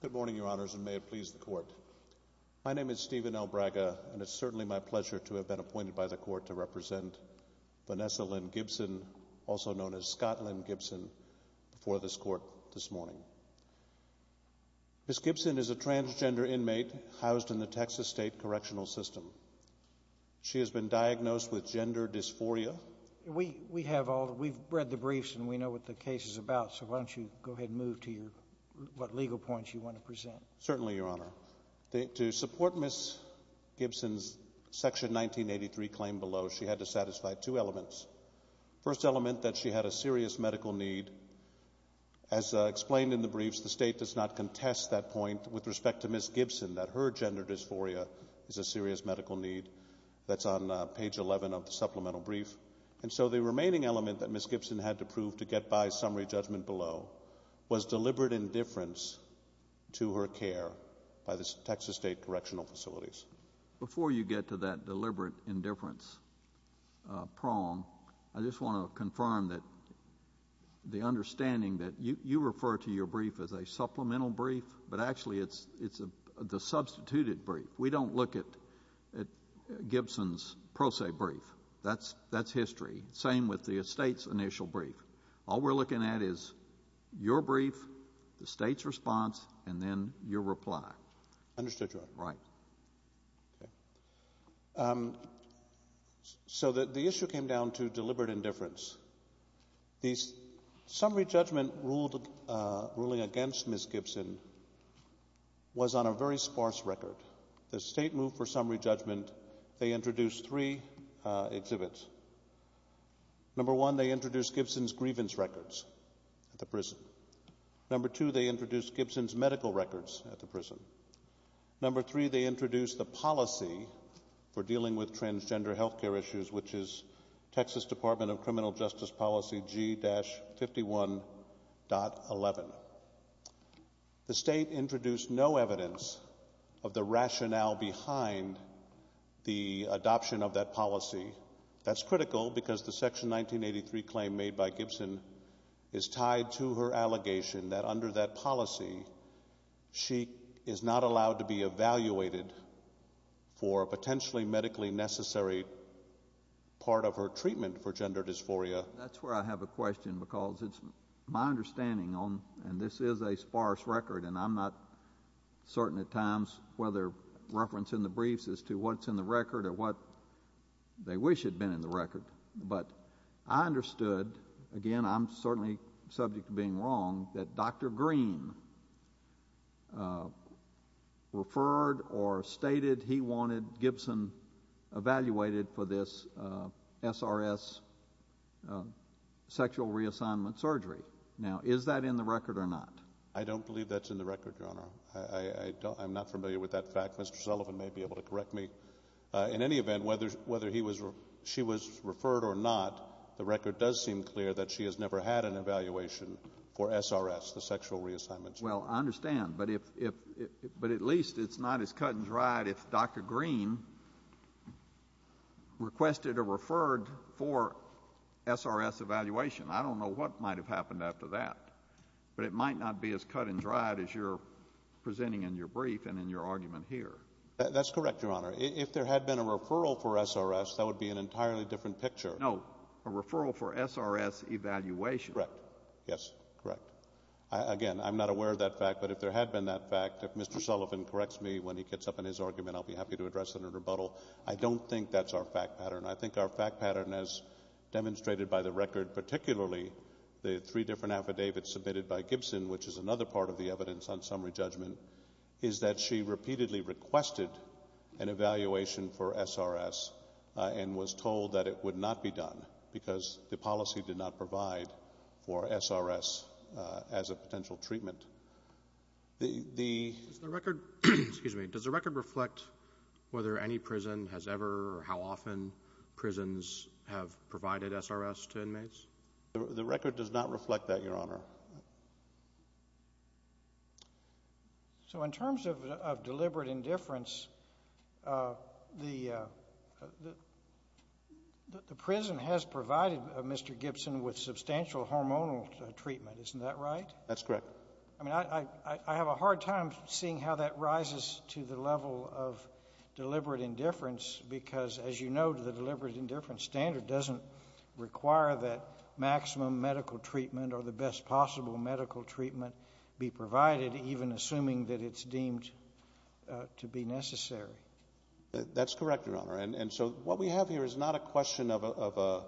Good morning, Your Honors, and may it please the Court. My name is Stephen L. Braga, and it is certainly my pleasure to have been appointed by the Court to represent Vanessa Lynn Gibson, also known as Scott Lynn Gibson, before this Court this morning. Ms. Gibson is a transgender inmate housed in the Texas state correctional system. She has been diagnosed with gender dysphoria. Vanessa, we have read the briefs and we know what the case is about, so why don't you go ahead and move to what legal points you want to present. Certainly, Your Honor. To support Ms. Gibson's Section 1983 claim below, she had to satisfy two elements. First element, that she had a serious medical need. As explained in the briefs, the state does not contest that point with respect to Ms. Gibson, that her gender dysphoria is a serious medical need. That's on page 11 of the supplemental brief. And so the remaining element that Ms. Gibson had to prove to get by summary judgment below was deliberate indifference to her care by the Texas state correctional facilities. Before you get to that deliberate indifference prong, I just want to confirm that the understanding that you refer to your brief as a supplemental brief, but actually it's the substituted brief. We don't look at Gibson's pro se brief. That's history. Same with the state's initial brief. All we're looking at is your brief, the state's response, and then your reply. Understood, Your Honor. Right. Okay. Um, so the issue came down to deliberate indifference. The summary judgment ruling against Ms. Gibson was on a very sparse record. The state moved for summary judgment. They introduced three exhibits. Number one, they introduced Gibson's grievance records at the prison. Number two, they introduced Gibson's medical records at the prison. Number three, they introduced the policy for dealing with transgender health care issues, which is Texas Department of Criminal Justice Policy G-51.11. The state introduced no evidence of the rationale behind the adoption of that policy. That's critical because the Section 1983 claim made by Gibson is tied to her allegation that under that policy, she is not allowed to be evaluated for a potentially medically necessary part of her treatment for gender dysphoria. That's where I have a question because it's my understanding on, and this is a sparse record and I'm not certain at times whether reference in the briefs as to what's in the record or what they wish had been in the record, but I understood, again I'm certainly subject to being wrong, that Dr. Green referred or stated he wanted Gibson evaluated for this SRS sexual reassignment surgery. Now is that in the record or not? I don't believe that's in the record, Your Honor. I'm not familiar with that fact. Mr. Sullivan may be able to correct me. In any event, whether she was referred or not, the record does seem clear that she has never had an evaluation for SRS, the sexual reassignment surgery. Well, I understand. But if — but at least it's not as cut and dried if Dr. Green requested or referred for SRS evaluation. I don't know what might have happened after that, but it might not be as cut and dried as you're presenting in your brief and in your argument here. That's correct, Your Honor. If there had been a referral for SRS, that would be an entirely different picture. No. A referral for SRS evaluation. Correct. Yes. Correct. Again, I'm not aware of that fact, but if there had been that fact, if Mr. Sullivan corrects me when he gets up in his argument, I'll be happy to address it in a rebuttal. I don't think that's our fact pattern. I think our fact pattern, as demonstrated by the record, particularly the three different affidavits submitted by Gibson, which is another part of the evidence on summary judgment, is that she repeatedly requested an evaluation for SRS and was told that it would not be done because the policy did not provide for SRS as a potential treatment. The — Does the record — excuse me — does the record reflect whether any prison has ever or how often prisons have provided SRS to inmates? The record does not reflect that, Your Honor. So in terms of deliberate indifference, the prison has provided Mr. Gibson with substantial hormonal treatment. Isn't that right? That's correct. I mean, I have a hard time seeing how that rises to the level of deliberate indifference because, as you know, the deliberate indifference standard doesn't require that maximum medical treatment or the best possible medical treatment be provided, even assuming that it's deemed to be necessary. That's correct, Your Honor. And so what we have here is not a question of an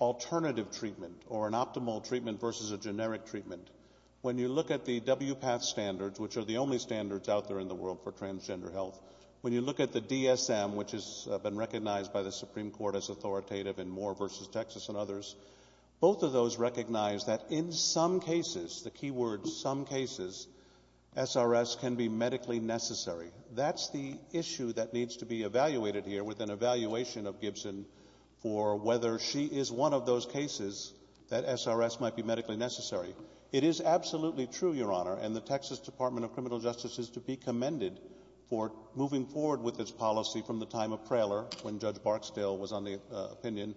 alternative treatment or an optimal treatment versus a generic treatment. When you look at the WPATH standards, which are the only standards out there in the world for transgender health, when you look at the DSM, which has been recognized by the Supreme Court as authoritative in Moore v. Texas and others, both of those recognize that in some cases — the key word, some cases — SRS can be medically necessary. That's the issue that needs to be evaluated here with an evaluation of Gibson for whether she is one of those cases that SRS might be medically necessary. It is absolutely true, Your Honor, and the Texas Department of Criminal Justice is to be commended for moving forward with its policy from the time of Praler, when Judge Barksdale was on the opinion,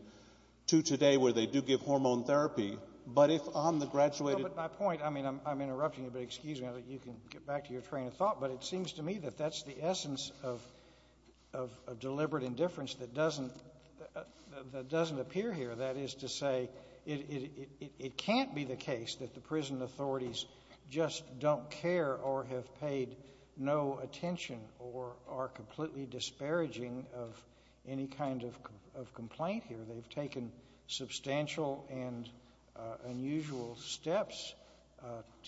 to today, where they do give hormone therapy. But if on the graduated — No, but my point — I mean, I'm interrupting you, but excuse me, I think you can get back to your train of thought, but it seems to me that that's the essence of deliberate indifference that doesn't — that doesn't appear here. That is to say, it can't be the case that the prison authorities just don't care or have paid no attention or are completely disparaging of any kind of complaint here. They've taken substantial and unusual steps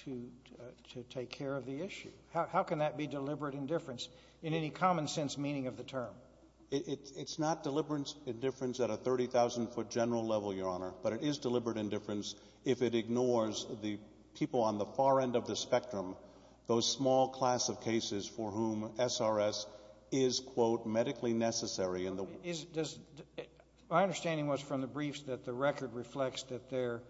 to take care of the issue. How can that be deliberate indifference in any common-sense meaning of the term? It's not deliberate indifference at a 30,000-foot general level, Your Honor, but it is deliberate indifference if it ignores the people on the far end of the spectrum, those small class of cases for whom SRS is, quote, medically necessary in the — But is — does — my understanding was from the briefs that the record reflects that there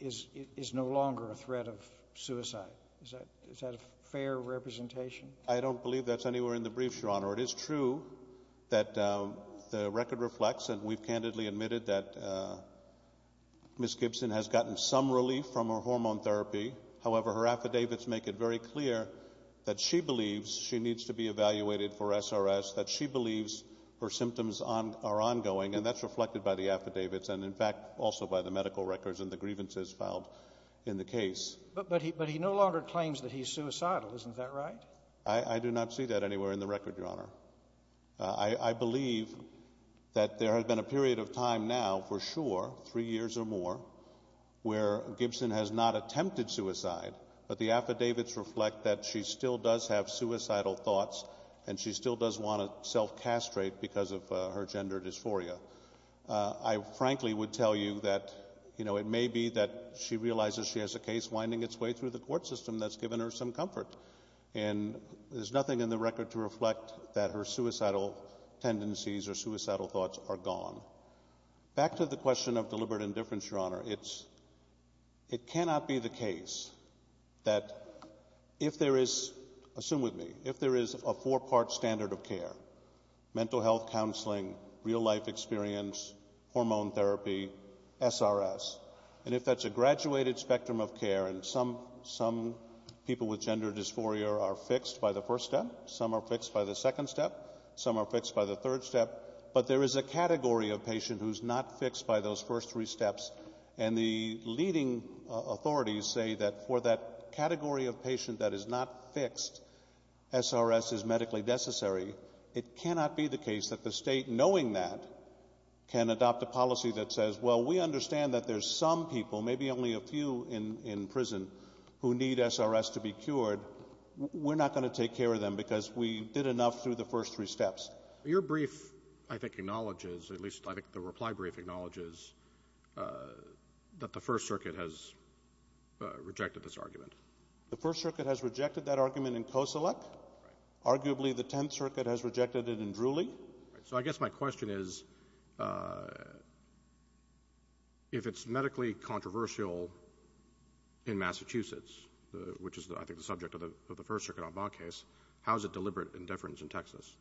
is no longer a threat of suicide. Is that — is that a fair representation? I don't believe that's anywhere in the briefs, Your Honor. It is true that the record reflects, and we've candidly admitted, that Ms. Gibson has gotten some relief from her hormone therapy. However, her affidavits make it very clear that she believes she needs to be evaluated for SRS, that she believes her symptoms are ongoing, and that's reflected by the affidavits and, in fact, also by the medical records and the grievances filed in the case. But he — but he no longer claims that he's suicidal, isn't that right? I do not see that anywhere in the record, Your Honor. I believe that there has been a period of time now, for sure, three years or more, where Gibson has not attempted suicide, but the affidavits reflect that she still does have suicidal thoughts and she still does want to self-castrate because of her gender dysphoria. I frankly would tell you that, you know, it may be that she realizes she has a case winding its way through the court system that's given her some comfort, and there's nothing in the record to reflect that her suicidal tendencies or suicidal thoughts are gone. Back to the question of deliberate indifference, Your Honor, it's — it cannot be the case that if there is — assume with me — if there is a four-part standard of care — mental health counseling, real-life experience, hormone therapy, SRS — and if that's a graduated spectrum of care, and some people with gender dysphoria are fixed by the first step, some are fixed by the second step, some are fixed by the third step, but there is a category of patient who's not fixed by those first three steps, and the leading authorities say that for that category of patient that is not fixed, SRS is medically necessary. It cannot be the case that the state, knowing that, can adopt a policy that says, well, we understand that there's some people, maybe only a few in prison, who need SRS to be cured. We're not going to take care of them because we did enough through the first three steps. Your brief, I think, acknowledges — at least, I think, the reply brief acknowledges — that the First Circuit has rejected this argument. The First Circuit has rejected that argument in Koselec. Right. Arguably, the Tenth Circuit has rejected it in Drewley. So I guess my question is, if it's medically controversial in Massachusetts, which is, I think, the subject of the First Circuit en bas case, how is it deliberate indifference in Texas?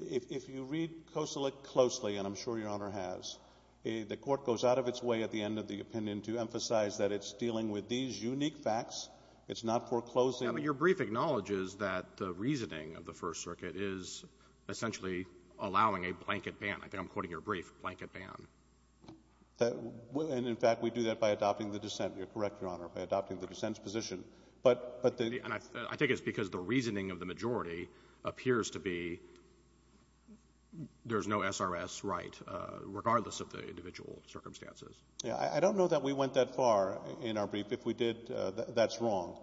If you read Koselec closely, and I'm sure Your Honor has, the court goes out of its way at the end of the opinion to emphasize that it's dealing with these unique facts. It's not foreclosing — I mean, your brief acknowledges that the reasoning of the First Circuit is essentially allowing a blanket ban. I think I'm quoting your brief, a blanket ban. And, in fact, we do that by adopting the dissent. You're correct, Your Honor, by adopting the dissent's position. But the — And I think it's because the reasoning of the majority appears to be there's no SRS right, regardless of the individual circumstances. Yeah. I don't know that we went that far in our brief. If we did, that's wrong.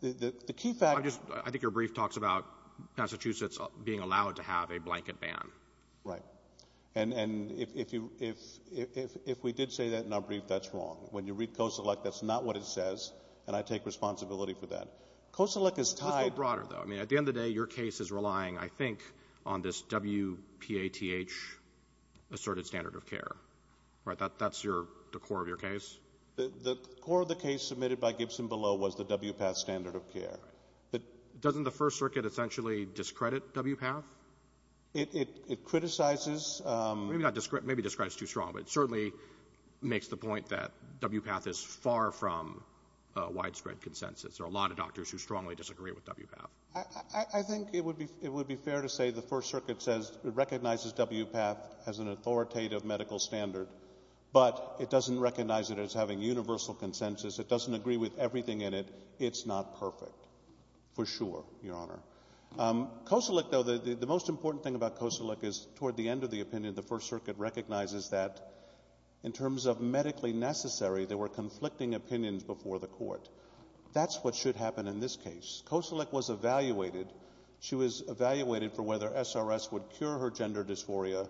The key fact — I'm just — I think your brief talks about Massachusetts being allowed to have a blanket ban. Right. And if you — if we did say that in our brief, that's wrong. When you read Koselec, that's not what it says, and I take responsibility for that. Koselec is tied — Let's go broader, though. I mean, at the end of the day, your case is relying, I think, on this WPATH asserted standard of care. Right? That's your — the core of your case? The core of the case submitted by Gibson below was the WPATH standard of care. But — Doesn't the First Circuit essentially discredit WPATH? It criticizes — Maybe not — maybe discredit's too strong, but it certainly makes the point that WPATH is far from widespread consensus. There are a lot of doctors who strongly disagree with WPATH. I think it would be — it would be fair to say the First Circuit says — recognizes WPATH as an authoritative medical standard, but it doesn't recognize it as having universal consensus. It doesn't agree with everything in it. It's not perfect, for sure, Your Honor. Koselec, though — the most important thing about Koselec is, toward the end of the opinion, the First Circuit recognizes that, in terms of medically necessary, there were conflicting opinions before the court. That's what should happen in this case. Koselec was evaluated. She was evaluated for whether SRS would cure her gender dysphoria.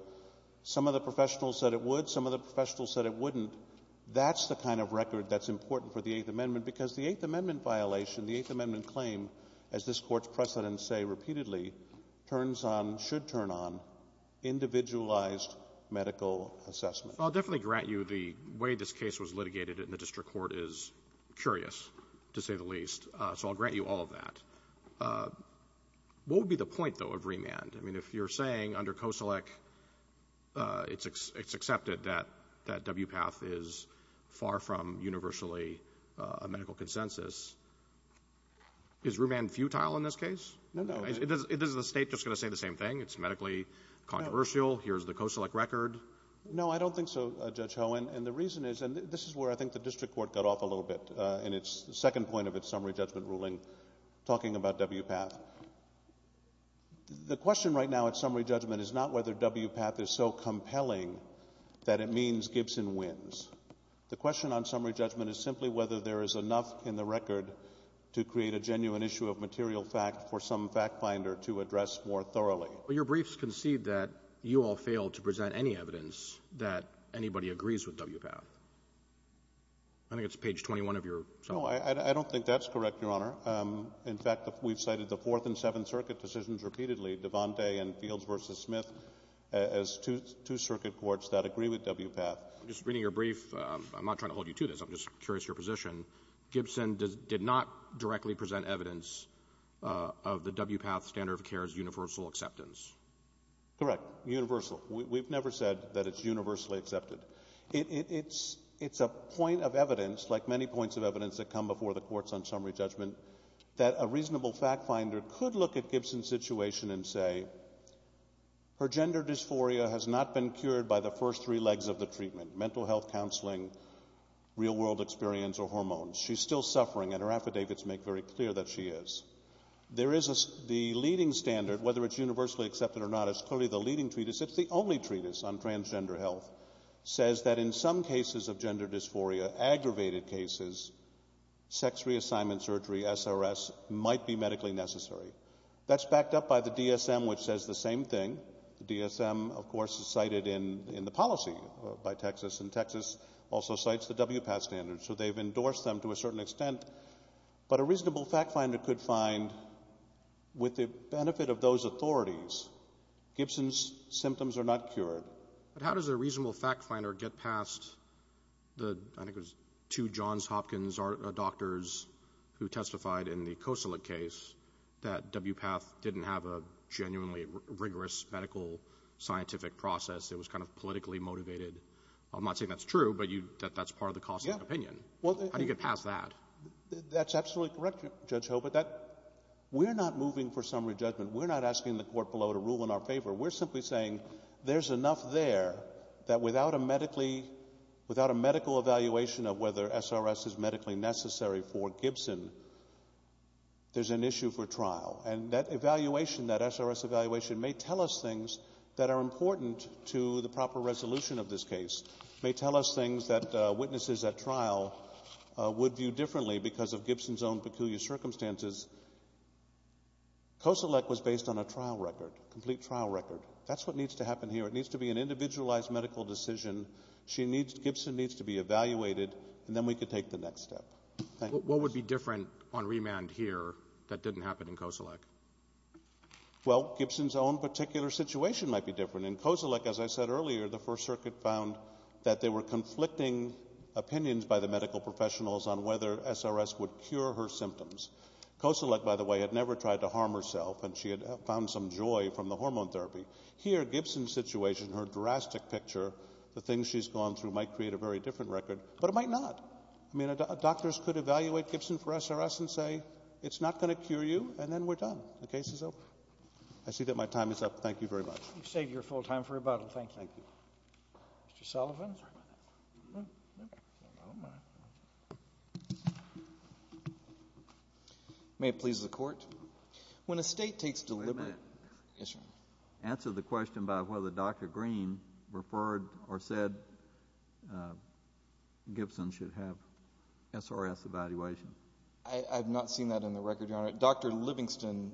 Some of the professionals said it would. Some of the professionals said it wouldn't. That's the kind of record that's important for the Eighth Amendment, because the Eighth Amendment violation, the Eighth Amendment claim, as this Court's precedents say repeatedly, turns on — should turn on individualized medical assessment. I'll definitely grant you the way this case was litigated in the district court is curious, to say the least. So I'll grant you all of that. What would be the point, though, of remand? I mean, if you're saying, under Koselec, it's accepted that WPATH is far from universally a medical consensus, is remand futile in this case? No, no. Is the State just going to say the same thing? It's medically controversial. Here's the Koselec record. No, I don't think so, Judge Hohen. And the reason is — and this is where I think the district court got off a little bit in its — the second point of its summary judgment ruling, talking about WPATH. The question right now at summary judgment is not whether WPATH is so compelling that it means Gibson wins. The question on summary judgment is simply whether there is enough in the record to create a genuine issue of material fact for some fact-finder to address more thoroughly. Your briefs concede that you all failed to present any evidence that anybody agrees with WPATH. I think it's page 21 of your summary. No. I don't think that's correct, Your Honor. In fact, we've cited the Fourth and Seventh Circuit decisions repeatedly, Devante and Fields v. Smith, as two circuit courts that agree with WPATH. Just reading your brief, I'm not trying to hold you to this. I'm just curious of your position. Gibson did not directly present evidence of the WPATH standard of care's universal acceptance. Correct. Universal. We've never said that it's universally accepted. It's a point of evidence, like many points of evidence that come before the courts on summary judgment, that a reasonable fact-finder could look at Gibson's situation and say, her gender dysphoria has not been cured by the first three legs of the treatment, mental health counseling, real-world experience, or hormones. She's still suffering, and her affidavits make very clear that she is. There is the leading standard, whether it's universally accepted or not, is clearly the leading treatise. It's the only treatise on transgender health that says that in some cases of gender dysphoria, aggravated cases, sex reassignment surgery, SRS, might be medically necessary. That's backed up by the DSM, which says the same thing. The DSM, of course, is cited in the policy by Texas, and Texas also cites the WPATH standard. So they've endorsed them to a certain extent. But a reasonable fact-finder could find, with the benefit of those authorities, Gibson's symptoms are not cured. But how does a reasonable fact-finder get past the, I think it was two Johns Hopkins doctors who testified in the Kosilak case, that WPATH didn't have a genuinely rigorous medical scientific process. It was kind of politically motivated. I'm not saying that's true, but that's part of the cost of the opinion. How do you get past that? That's absolutely correct, Judge Hobart. We're not moving for summary judgment. We're not asking the court below to rule in our favor. We're simply saying there's enough there that without a medically, without a medical evaluation of whether SRS is medically necessary for Gibson, there's an issue for trial. And that evaluation, that SRS evaluation, may tell us things that are important to the trial, would view differently because of Gibson's own peculiar circumstances. Kosilak was based on a trial record, a complete trial record. That's what needs to happen here. It needs to be an individualized medical decision. Gibson needs to be evaluated, and then we can take the next step. What would be different on remand here that didn't happen in Kosilak? Well, Gibson's own particular situation might be different. In Kosilak, as I said earlier, the First Circuit found that there were conflicting opinions by the medical professionals on whether SRS would cure her symptoms. Kosilak, by the way, had never tried to harm herself, and she had found some joy from the hormone therapy. Here, Gibson's situation, her drastic picture, the things she's gone through might create a very different record, but it might not. I mean, doctors could evaluate Gibson for SRS and say, it's not going to cure you, and then we're done. The case is over. I see that my time is up. Thank you very much. You've saved your full time for rebuttal. Thank you. Thank you. Mr. Sullivan? May it please the Court. When a state takes deliberate answer to the question by whether Dr. Green referred or said Gibson should have SRS evaluation. I have not seen that in the record, Your Honor. Dr. Livingston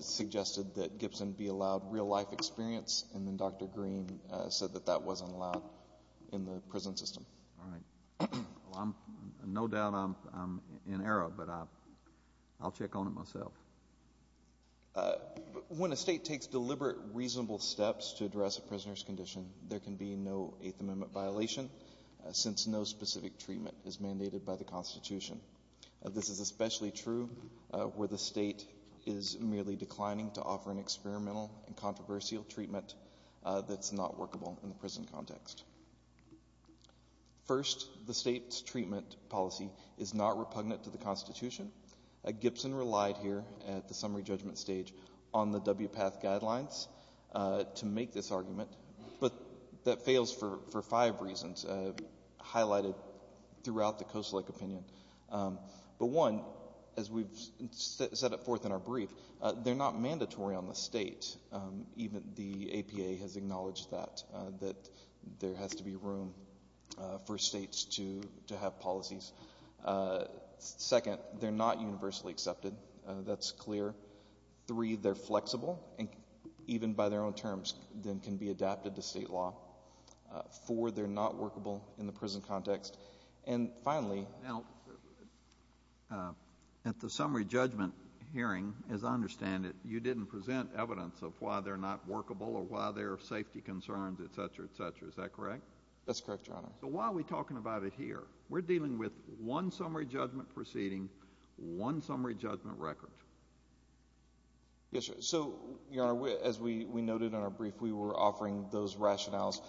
suggested that Gibson be allowed real life experience, and then Dr. Green said that that wasn't allowed in the prison system. All right. Well, I'm, no doubt I'm in error, but I'll check on it myself. When a state takes deliberate, reasonable steps to address a prisoner's condition, there can be no Eighth Amendment violation, since no specific treatment is mandated by the Constitution. This is especially true where the state is merely declining to offer an experimental and controversial treatment that's not workable in the prison context. First, the state's treatment policy is not repugnant to the Constitution. Gibson relied here at the summary judgment stage on the WPATH guidelines to make this argument, but that fails for five reasons, highlighted throughout the Koselleck opinion. But one, as we've set it forth in our brief, they're not mandatory on the state. Even the APA has acknowledged that, that there has to be room for states to have policies. Second, they're not universally accepted. That's clear. Three, they're flexible, and even by their own terms, then can be adapted to state law. Four, they're not workable in the prison context. And finally— Now, at the summary judgment hearing, as I understand it, you didn't present evidence of why they're not workable or why there are safety concerns, et cetera, et cetera. Is that correct? That's correct, Your Honor. So why are we talking about it here? We're dealing with one summary judgment proceeding, one summary judgment record. Yes, Your Honor. So, Your Honor, as we noted in our brief, we were offering those rationales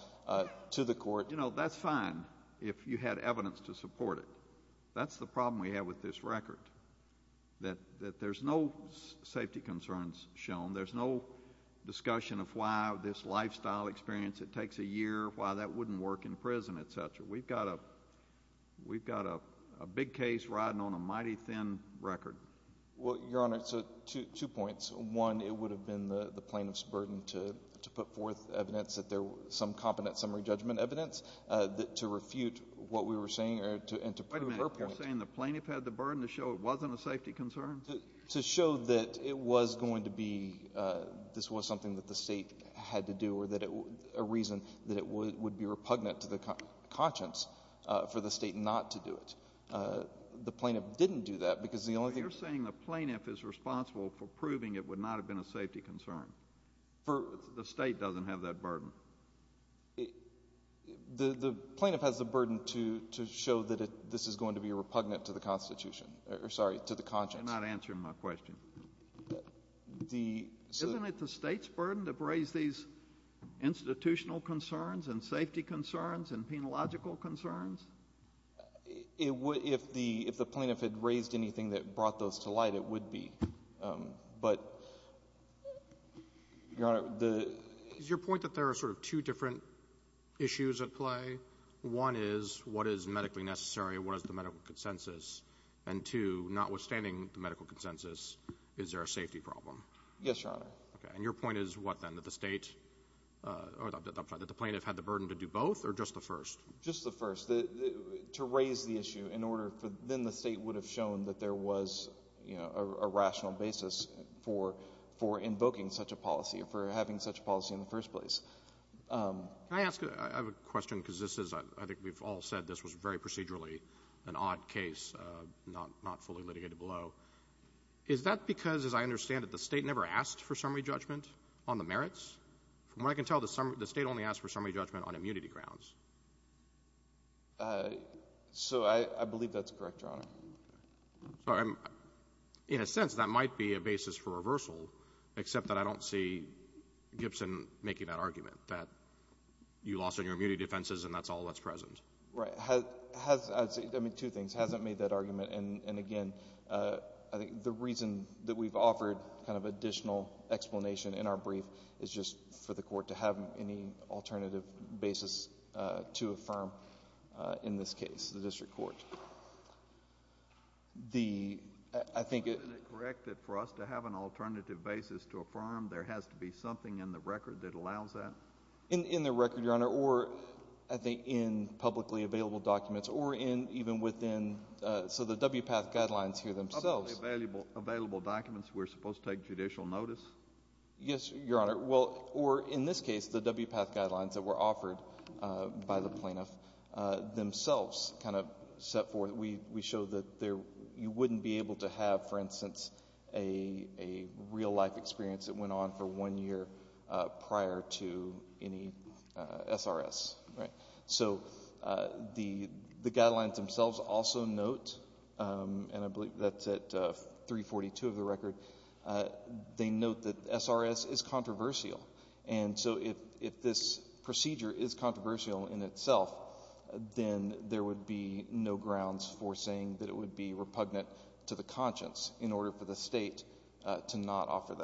to the court. But, you know, that's fine if you had evidence to support it. That's the problem we have with this record, that there's no safety concerns shown. There's no discussion of why this lifestyle experience, it takes a year, why that wouldn't work in prison, et cetera. We've got a big case riding on a mighty thin record. Well, Your Honor, two points. One, it would have been the plaintiff's burden to put forth evidence that there was some competent summary judgment evidence to refute what we were saying and to prove her point. Wait a minute. You're saying the plaintiff had the burden to show it wasn't a safety concern? To show that it was going to be, this was something that the State had to do or a reason that it would be repugnant to the conscience for the State not to do it. The plaintiff didn't do that because the only thing— You're saying the plaintiff is responsible for proving it would not have been a safety concern? For— The State doesn't have that burden. The plaintiff has the burden to show that this is going to be repugnant to the Constitution—sorry, to the conscience. You're not answering my question. The— Isn't it the State's burden to raise these institutional concerns and safety concerns and penological concerns? It would—if the plaintiff had raised anything that brought those to light, it would be. But, Your Honor, the— Is your point that there are sort of two different issues at play? One is what is medically necessary, what is the medical consensus? And two, notwithstanding the medical consensus, is there a safety problem? Yes, Your Honor. Okay. And your point is what then? That the State—or that the plaintiff had the burden to do both or just the first? Just the first. To raise the issue in order for—then the State would have shown that there was, you know, a rational basis for invoking such a policy or for having such a policy in the first place. Can I ask—I have a question because this is—I think we've all said this was very procedurally an odd case, not fully litigated below. Is that because, as I understand it, the State never asked for summary judgment on the merits? From what I can tell, the State only asked for summary judgment on immunity grounds. So I believe that's correct, Your Honor. So, in a sense, that might be a basis for reversal, except that I don't see Gibson making that argument, that you lost on your immunity defenses and that's all that's present. Right. Has—I mean, two things. Hasn't made that argument. And, again, I think the reason that we've offered kind of additional explanation in our brief is just for the Court to have any alternative basis to affirm in this case, the district court. The—I think— Isn't it correct that for us to have an alternative basis to affirm, there has to be something in the record that allows that? In the record, Your Honor, or, I think, in publicly available documents or in even within—so the WPATH guidelines here themselves— Publicly available documents we're supposed to take judicial notice? Yes, Your Honor. Well, or, in this case, the WPATH guidelines that were offered by the plaintiff themselves kind of set forth—we show that there—you wouldn't be able to have, for instance, a real-life experience that went on for one year prior to any SRS, right? So the guidelines themselves also note, and I believe that's at 342 of the record, they note that SRS is controversial. And so if this procedure is controversial in itself, then there would be no grounds for saying that it would be repugnant to the conscience in order for the State to not offer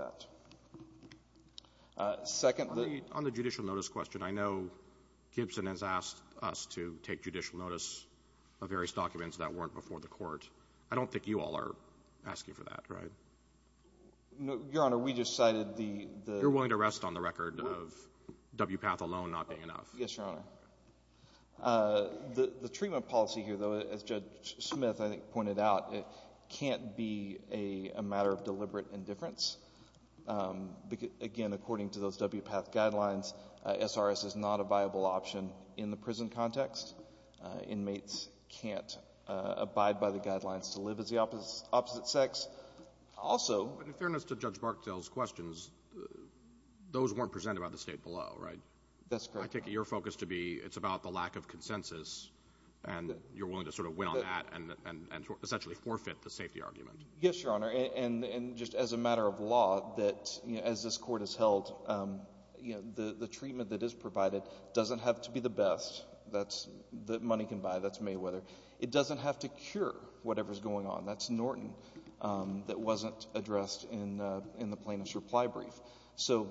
that. Second— On the judicial notice question, I know Gibson has asked us to take judicial notice of various documents that weren't before the Court. I don't think you all are asking for that, right? No, Your Honor. We just cited the— You're willing to rest on the record of WPATH alone not being enough? Yes, Your Honor. Okay. The treatment policy here, though, as Judge Smith, I think, pointed out, can't be a matter of deliberate indifference. Again, according to those WPATH guidelines, SRS is not a viable option in the prison context. Inmates can't abide by the guidelines to live as the opposite sex. Also— But in fairness to Judge Barksdale's questions, those weren't presented by the State below, right? That's correct. I take it your focus to be it's about the lack of consensus, and you're willing to sort of win on that and essentially forfeit the safety argument. Yes, Your Honor. And just as a matter of law, that as this Court has held, the treatment that is provided doesn't have to be the best. That's—the money can buy. That's Mayweather. It doesn't have to cure whatever's going on. That's Norton that wasn't addressed in the plaintiff's reply brief. So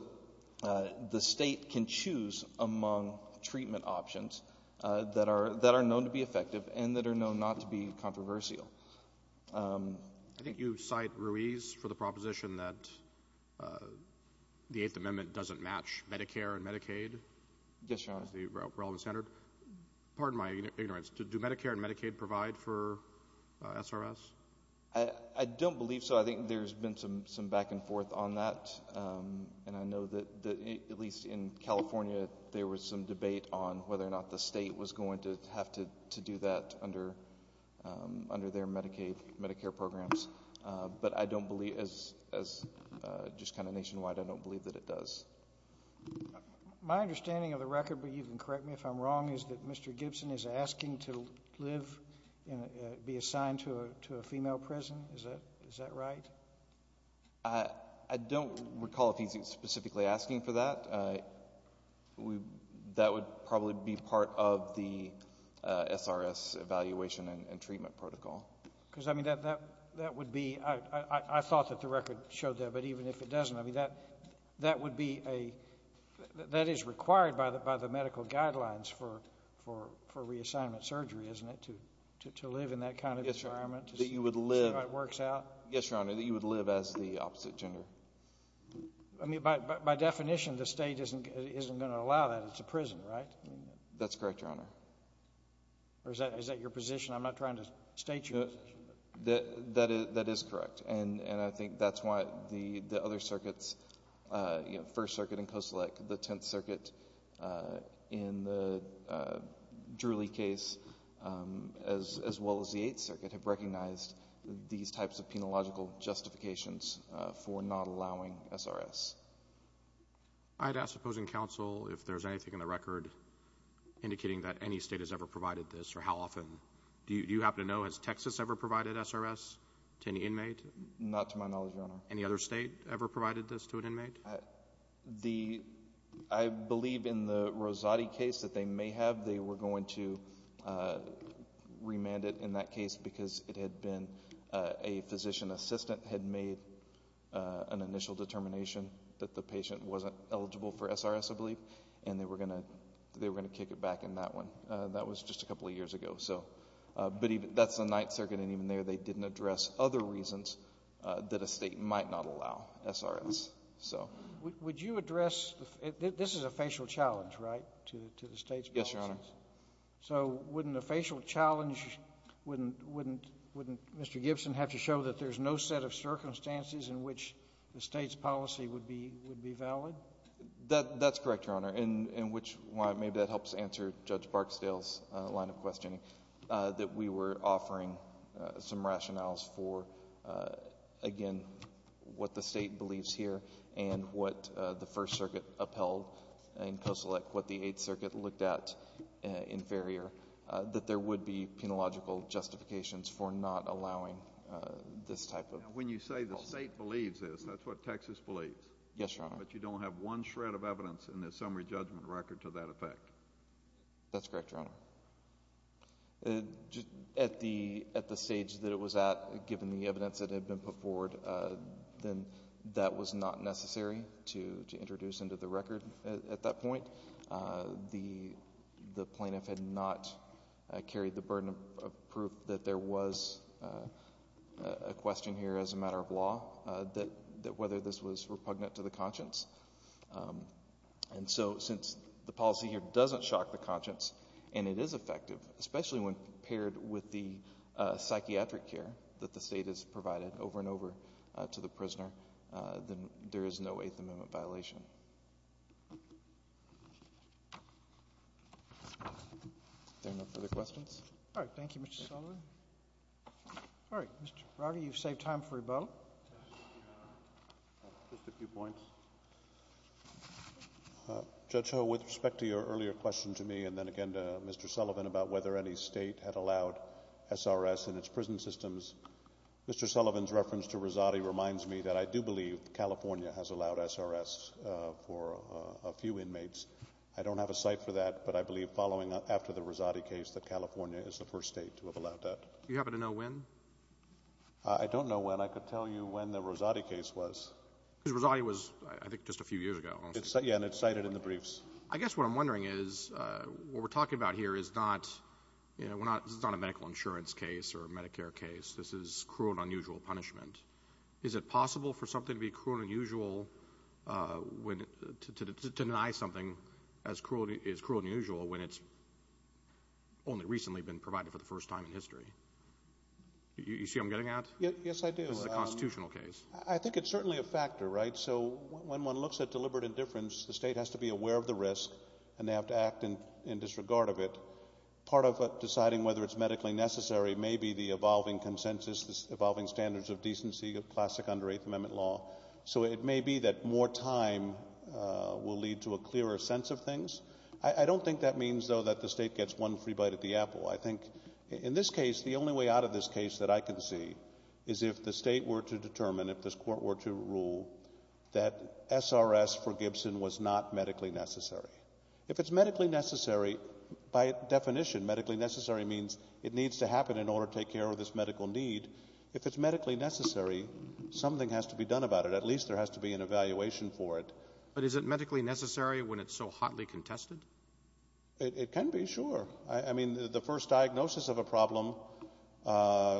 the State can choose among treatment options that are known to be effective and that are known not to be controversial. I think you cite Ruiz for the proposition that the Eighth Amendment doesn't match Medicare and Medicaid. Yes, Your Honor. That is the relevant standard. Pardon my ignorance. Do Medicare and Medicaid provide for SRS? I don't believe so. I think there's been some back and forth on that, and I know that at least in California there was some debate on whether or not the State was going to have to do that under their Medicaid—Medicare programs. But I don't believe—as just kind of nationwide, I don't believe that it does. My understanding of the record, but you can correct me if I'm wrong, is that Mr. Gibson is asking to live—be assigned to a female prison. Is that right? I don't recall if he's specifically asking for that. That would probably be part of the SRS evaluation and treatment protocol. Because, I mean, that would be—I thought that the record showed that, but even if it wasn't, I mean, that would be a—that is required by the medical guidelines for reassignment surgery, isn't it, to live in that kind of environment? Yes, Your Honor. To see how it works out? Yes, Your Honor, that you would live as the opposite gender. I mean, by definition, the State isn't going to allow that. It's a prison, right? That's correct, Your Honor. Or is that your position? I'm not trying to state your position. That is correct. And I think that's why the other circuits, you know, First Circuit in Koselleck, the Tenth Circuit in the Drewley case, as well as the Eighth Circuit, have recognized these types of penological justifications for not allowing SRS. I'd ask the opposing counsel if there's anything in the record indicating that any State has ever provided this, or how often. Do you happen to know, has Texas ever provided SRS to any inmate? Not to my knowledge, Your Honor. Any other State ever provided this to an inmate? The—I believe in the Rosati case that they may have, they were going to remand it in that case because it had been—a physician assistant had made an initial determination that the patient wasn't eligible for SRS, I believe, and they were going to kick it back in that one. That was just a couple of years ago, so. But even—that's the Ninth Circuit, and even there they didn't address other reasons that a State might not allow SRS, so. Would you address—this is a facial challenge, right, to the State's policies? Yes, Your Honor. So, wouldn't a facial challenge—wouldn't Mr. Gibson have to show that there's no set of circumstances in which the State's policy would be valid? That's correct, Your Honor. And which—maybe that helps answer Judge Barksdale's line of questioning, that we were offering some rationales for, again, what the State believes here and what the First Circuit upheld in Koselec, what the Eighth Circuit looked at in Ferrier, that there would be penological justifications for not allowing this type of— Now, when you say the State believes this, that's what Texas believes? Yes, Your Honor. But you don't have one shred of evidence in the summary judgment record to that effect? That's correct, Your Honor. At the—at the stage that it was at, given the evidence that had been put forward, then that was not necessary to introduce into the record at that point. The plaintiff had not carried the burden of proof that there was a question here as a matter of conscience. And so, since the policy here doesn't shock the conscience, and it is effective, especially when paired with the psychiatric care that the State has provided over and over to the prisoner, then there is no Eighth Amendment violation. Are there no further questions? All right. Thank you, Mr. Sullivan. All right. Mr. Brody, you've saved time for rebuttal. Just a few points. Judge Ho, with respect to your earlier question to me, and then again to Mr. Sullivan about whether any State had allowed SRS in its prison systems, Mr. Sullivan's reference to Rizzotti reminds me that I do believe California has allowed SRS for a few inmates. I don't have a cite for that, but I believe following—after the Rizzotti case, that California is the first State to have allowed that. Do you happen to know when? I don't know when. I could tell you when the Rizzotti case was. Because Rizzotti was, I think, just a few years ago. Yeah, and it's cited in the briefs. I guess what I'm wondering is, what we're talking about here is not—this is not a medical insurance case or a Medicare case. This is cruel and unusual punishment. Is it possible for something to be cruel and unusual when—to deny something as cruel and unusual when it's only recently been provided for the first time in history? You see what I'm getting at? Yes, I do. This is a constitutional case. I think it's certainly a factor, right? So, when one looks at deliberate indifference, the State has to be aware of the risk, and they have to act in disregard of it. Part of deciding whether it's medically necessary may be the evolving consensus, the evolving standards of decency, of classic under Eighth Amendment law. So, it may be that more time will lead to a clearer sense of things. I think, in this case, the only way out of this case that I can see is if the State were to determine, if this Court were to rule, that SRS for Gibson was not medically necessary. If it's medically necessary, by definition, medically necessary means it needs to happen in order to take care of this medical need. If it's medically necessary, something has to be done about it. At least there has to be an evaluation for it. But is it medically necessary when it's so hotly contested? It can be, sure. I mean, the first diagnosis of a problem,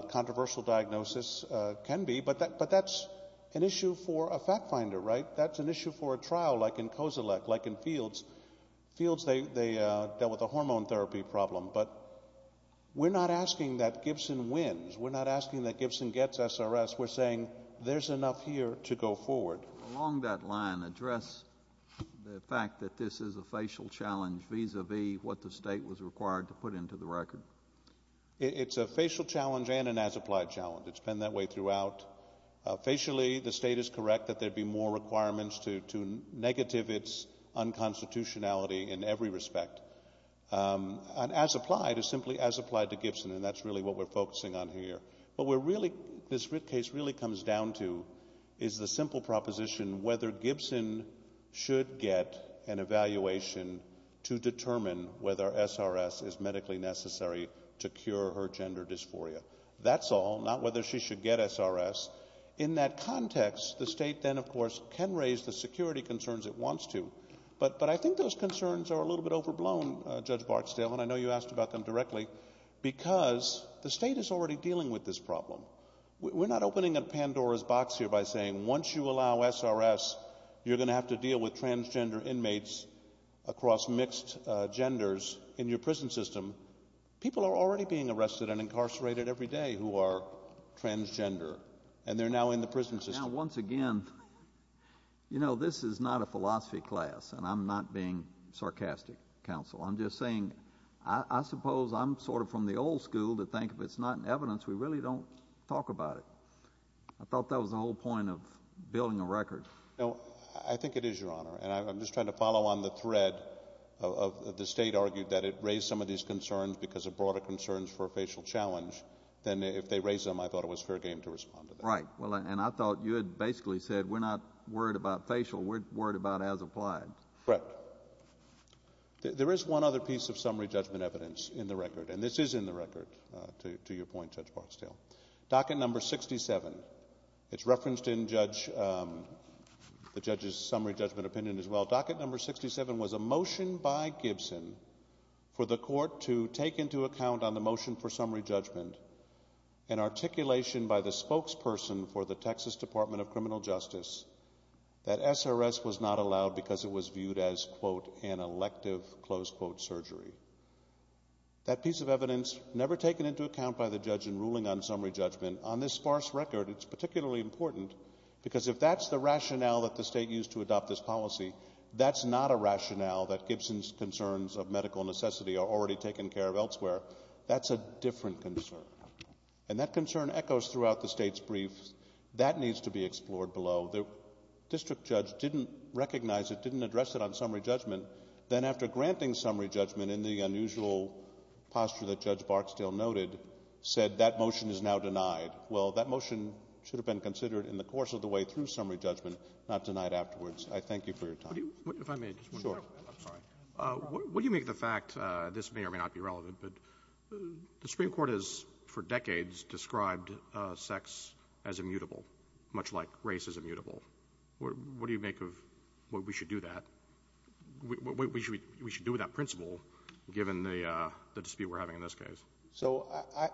controversial diagnosis, can be. But that's an issue for a fact finder, right? That's an issue for a trial, like in COSELEC, like in Fields. Fields, they dealt with a hormone therapy problem. But we're not asking that Gibson wins. We're not asking that Gibson gets SRS. We're saying there's enough here to go forward. Along that line, address the fact that this is a facial challenge, vis-a-vis what the State was required to put into the record. It's a facial challenge and an as-applied challenge. It's been that way throughout. Facially, the State is correct that there'd be more requirements to negative its unconstitutionality in every respect. An as-applied is simply as-applied to Gibson, and that's really what we're focusing on here. What this writ case really comes down to is the simple proposition, whether Gibson should get an evaluation to determine whether SRS is medically necessary to cure her gender dysphoria. That's all, not whether she should get SRS. In that context, the State then, of course, can raise the security concerns it wants to. But I think those concerns are a little bit overblown, Judge Barksdale, and I know you asked about them directly, because the State is already dealing with this problem. We're not opening a Pandora's box here by saying once you allow SRS, you're going to have to deal with transgender inmates across mixed genders in your prison system. People are already being arrested and incarcerated every day who are transgender, and they're now in the prison system. Now, once again, you know, this is not a philosophy class, and I'm not being sarcastic, Counsel. I'm just saying, I suppose I'm sort of from the old school to think if it's not in evidence, we really don't talk about it. I thought that was the whole point of building a record. No, I think it is, Your Honor, and I'm just trying to follow on the thread of the State argued that it raised some of these concerns because of broader concerns for a facial challenge, then if they raised them, I thought it was fair game to respond to that. Right, and I thought you had basically said we're not worried about facial, we're worried about as applied. Brett, there is one other piece of summary judgment evidence in the record, and this is in the record, to your point, Judge Barksdale. Docket number 67. It's referenced in the judge's summary judgment opinion as well. Docket number 67 was a motion by Gibson for the court to take into account on the motion for summary judgment an articulation by the spokesperson for the Texas Department of Criminal Justice that SRS was not allowed because it was viewed as, quote, an elective, close quote, surgery. That piece of evidence never taken into account by the judge in ruling on summary judgment. On this sparse record, it's particularly important because if that's the rationale that the state used to adopt this policy, that's not a rationale that Gibson's concerns of medical necessity are already taken care of elsewhere. That's a different concern, and that concern echoes throughout the state's briefs. That needs to be explored below. The district judge didn't recognize it, didn't address it on summary judgment, then after granting summary judgment in the unusual posture that Judge Barksdale noted, said that motion is now denied. Well, that motion should have been considered in the course of the way through summary judgment, not denied afterwards. I thank you for your time. What do you make of the fact, this may or may not be relevant, but the Supreme Court has, for decades, described sex as immutable, much like race is immutable. What do you make of what we should do with that principle, given the dispute we're having in this case? So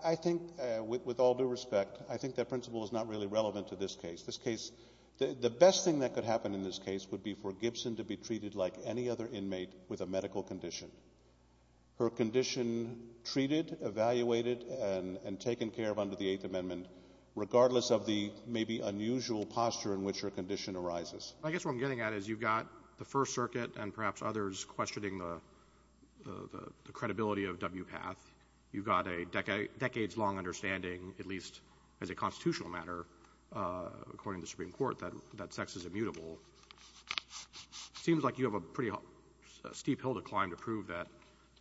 I think, with all due respect, I think that principle is not really relevant to this case. The best thing that could happen in this case would be for Gibson to be treated like any other inmate with a medical condition, her condition treated, evaluated, and taken care of under the Eighth Amendment, regardless of the maybe unusual posture in which her condition arises. I guess what I'm getting at is you've got the First Circuit and perhaps others questioning the credibility of WPATH. You've got a decades-long understanding, at least as a constitutional matter, according to the Supreme Court, that sex is immutable. It seems like you have a pretty steep hill to climb to prove that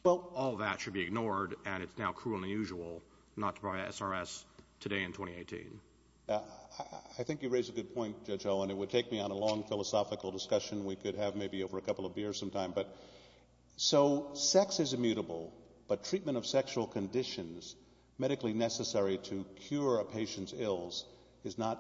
all that should be ignored and it's now cruel and unusual not to provide SRS today in 2018. I think you raise a good point, Judge Owen. It would take me on a long philosophical discussion we could have maybe over a couple of beers sometime. So sex is immutable, but treatment of sexual conditions medically necessary to cure a patient's ills is not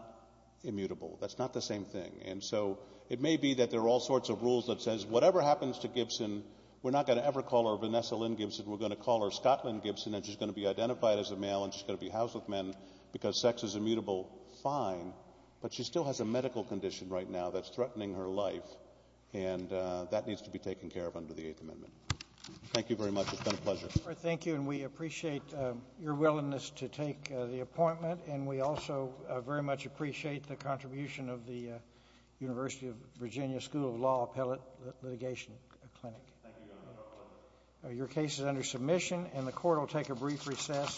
immutable. That's not the same thing. And so it may be that there are all sorts of rules that says whatever happens to Gibson, we're not going to ever call her Vanessa Lynn Gibson, we're going to call her Scotland Gibson and she's going to be identified as a male and she's going to be housed with men because sex is immutable, fine, but she still has a medical condition right now that's threatening her life, and that needs to be taken care of under the Eighth Amendment. Thank you very much. It's been a pleasure. Thank you, and we appreciate your willingness to take the appointment and we also very much appreciate the contribution of the University of Virginia School of Law Appellate Litigation Clinic. Thank you, Your Honor. Your case is under submission and the court will take a brief recess.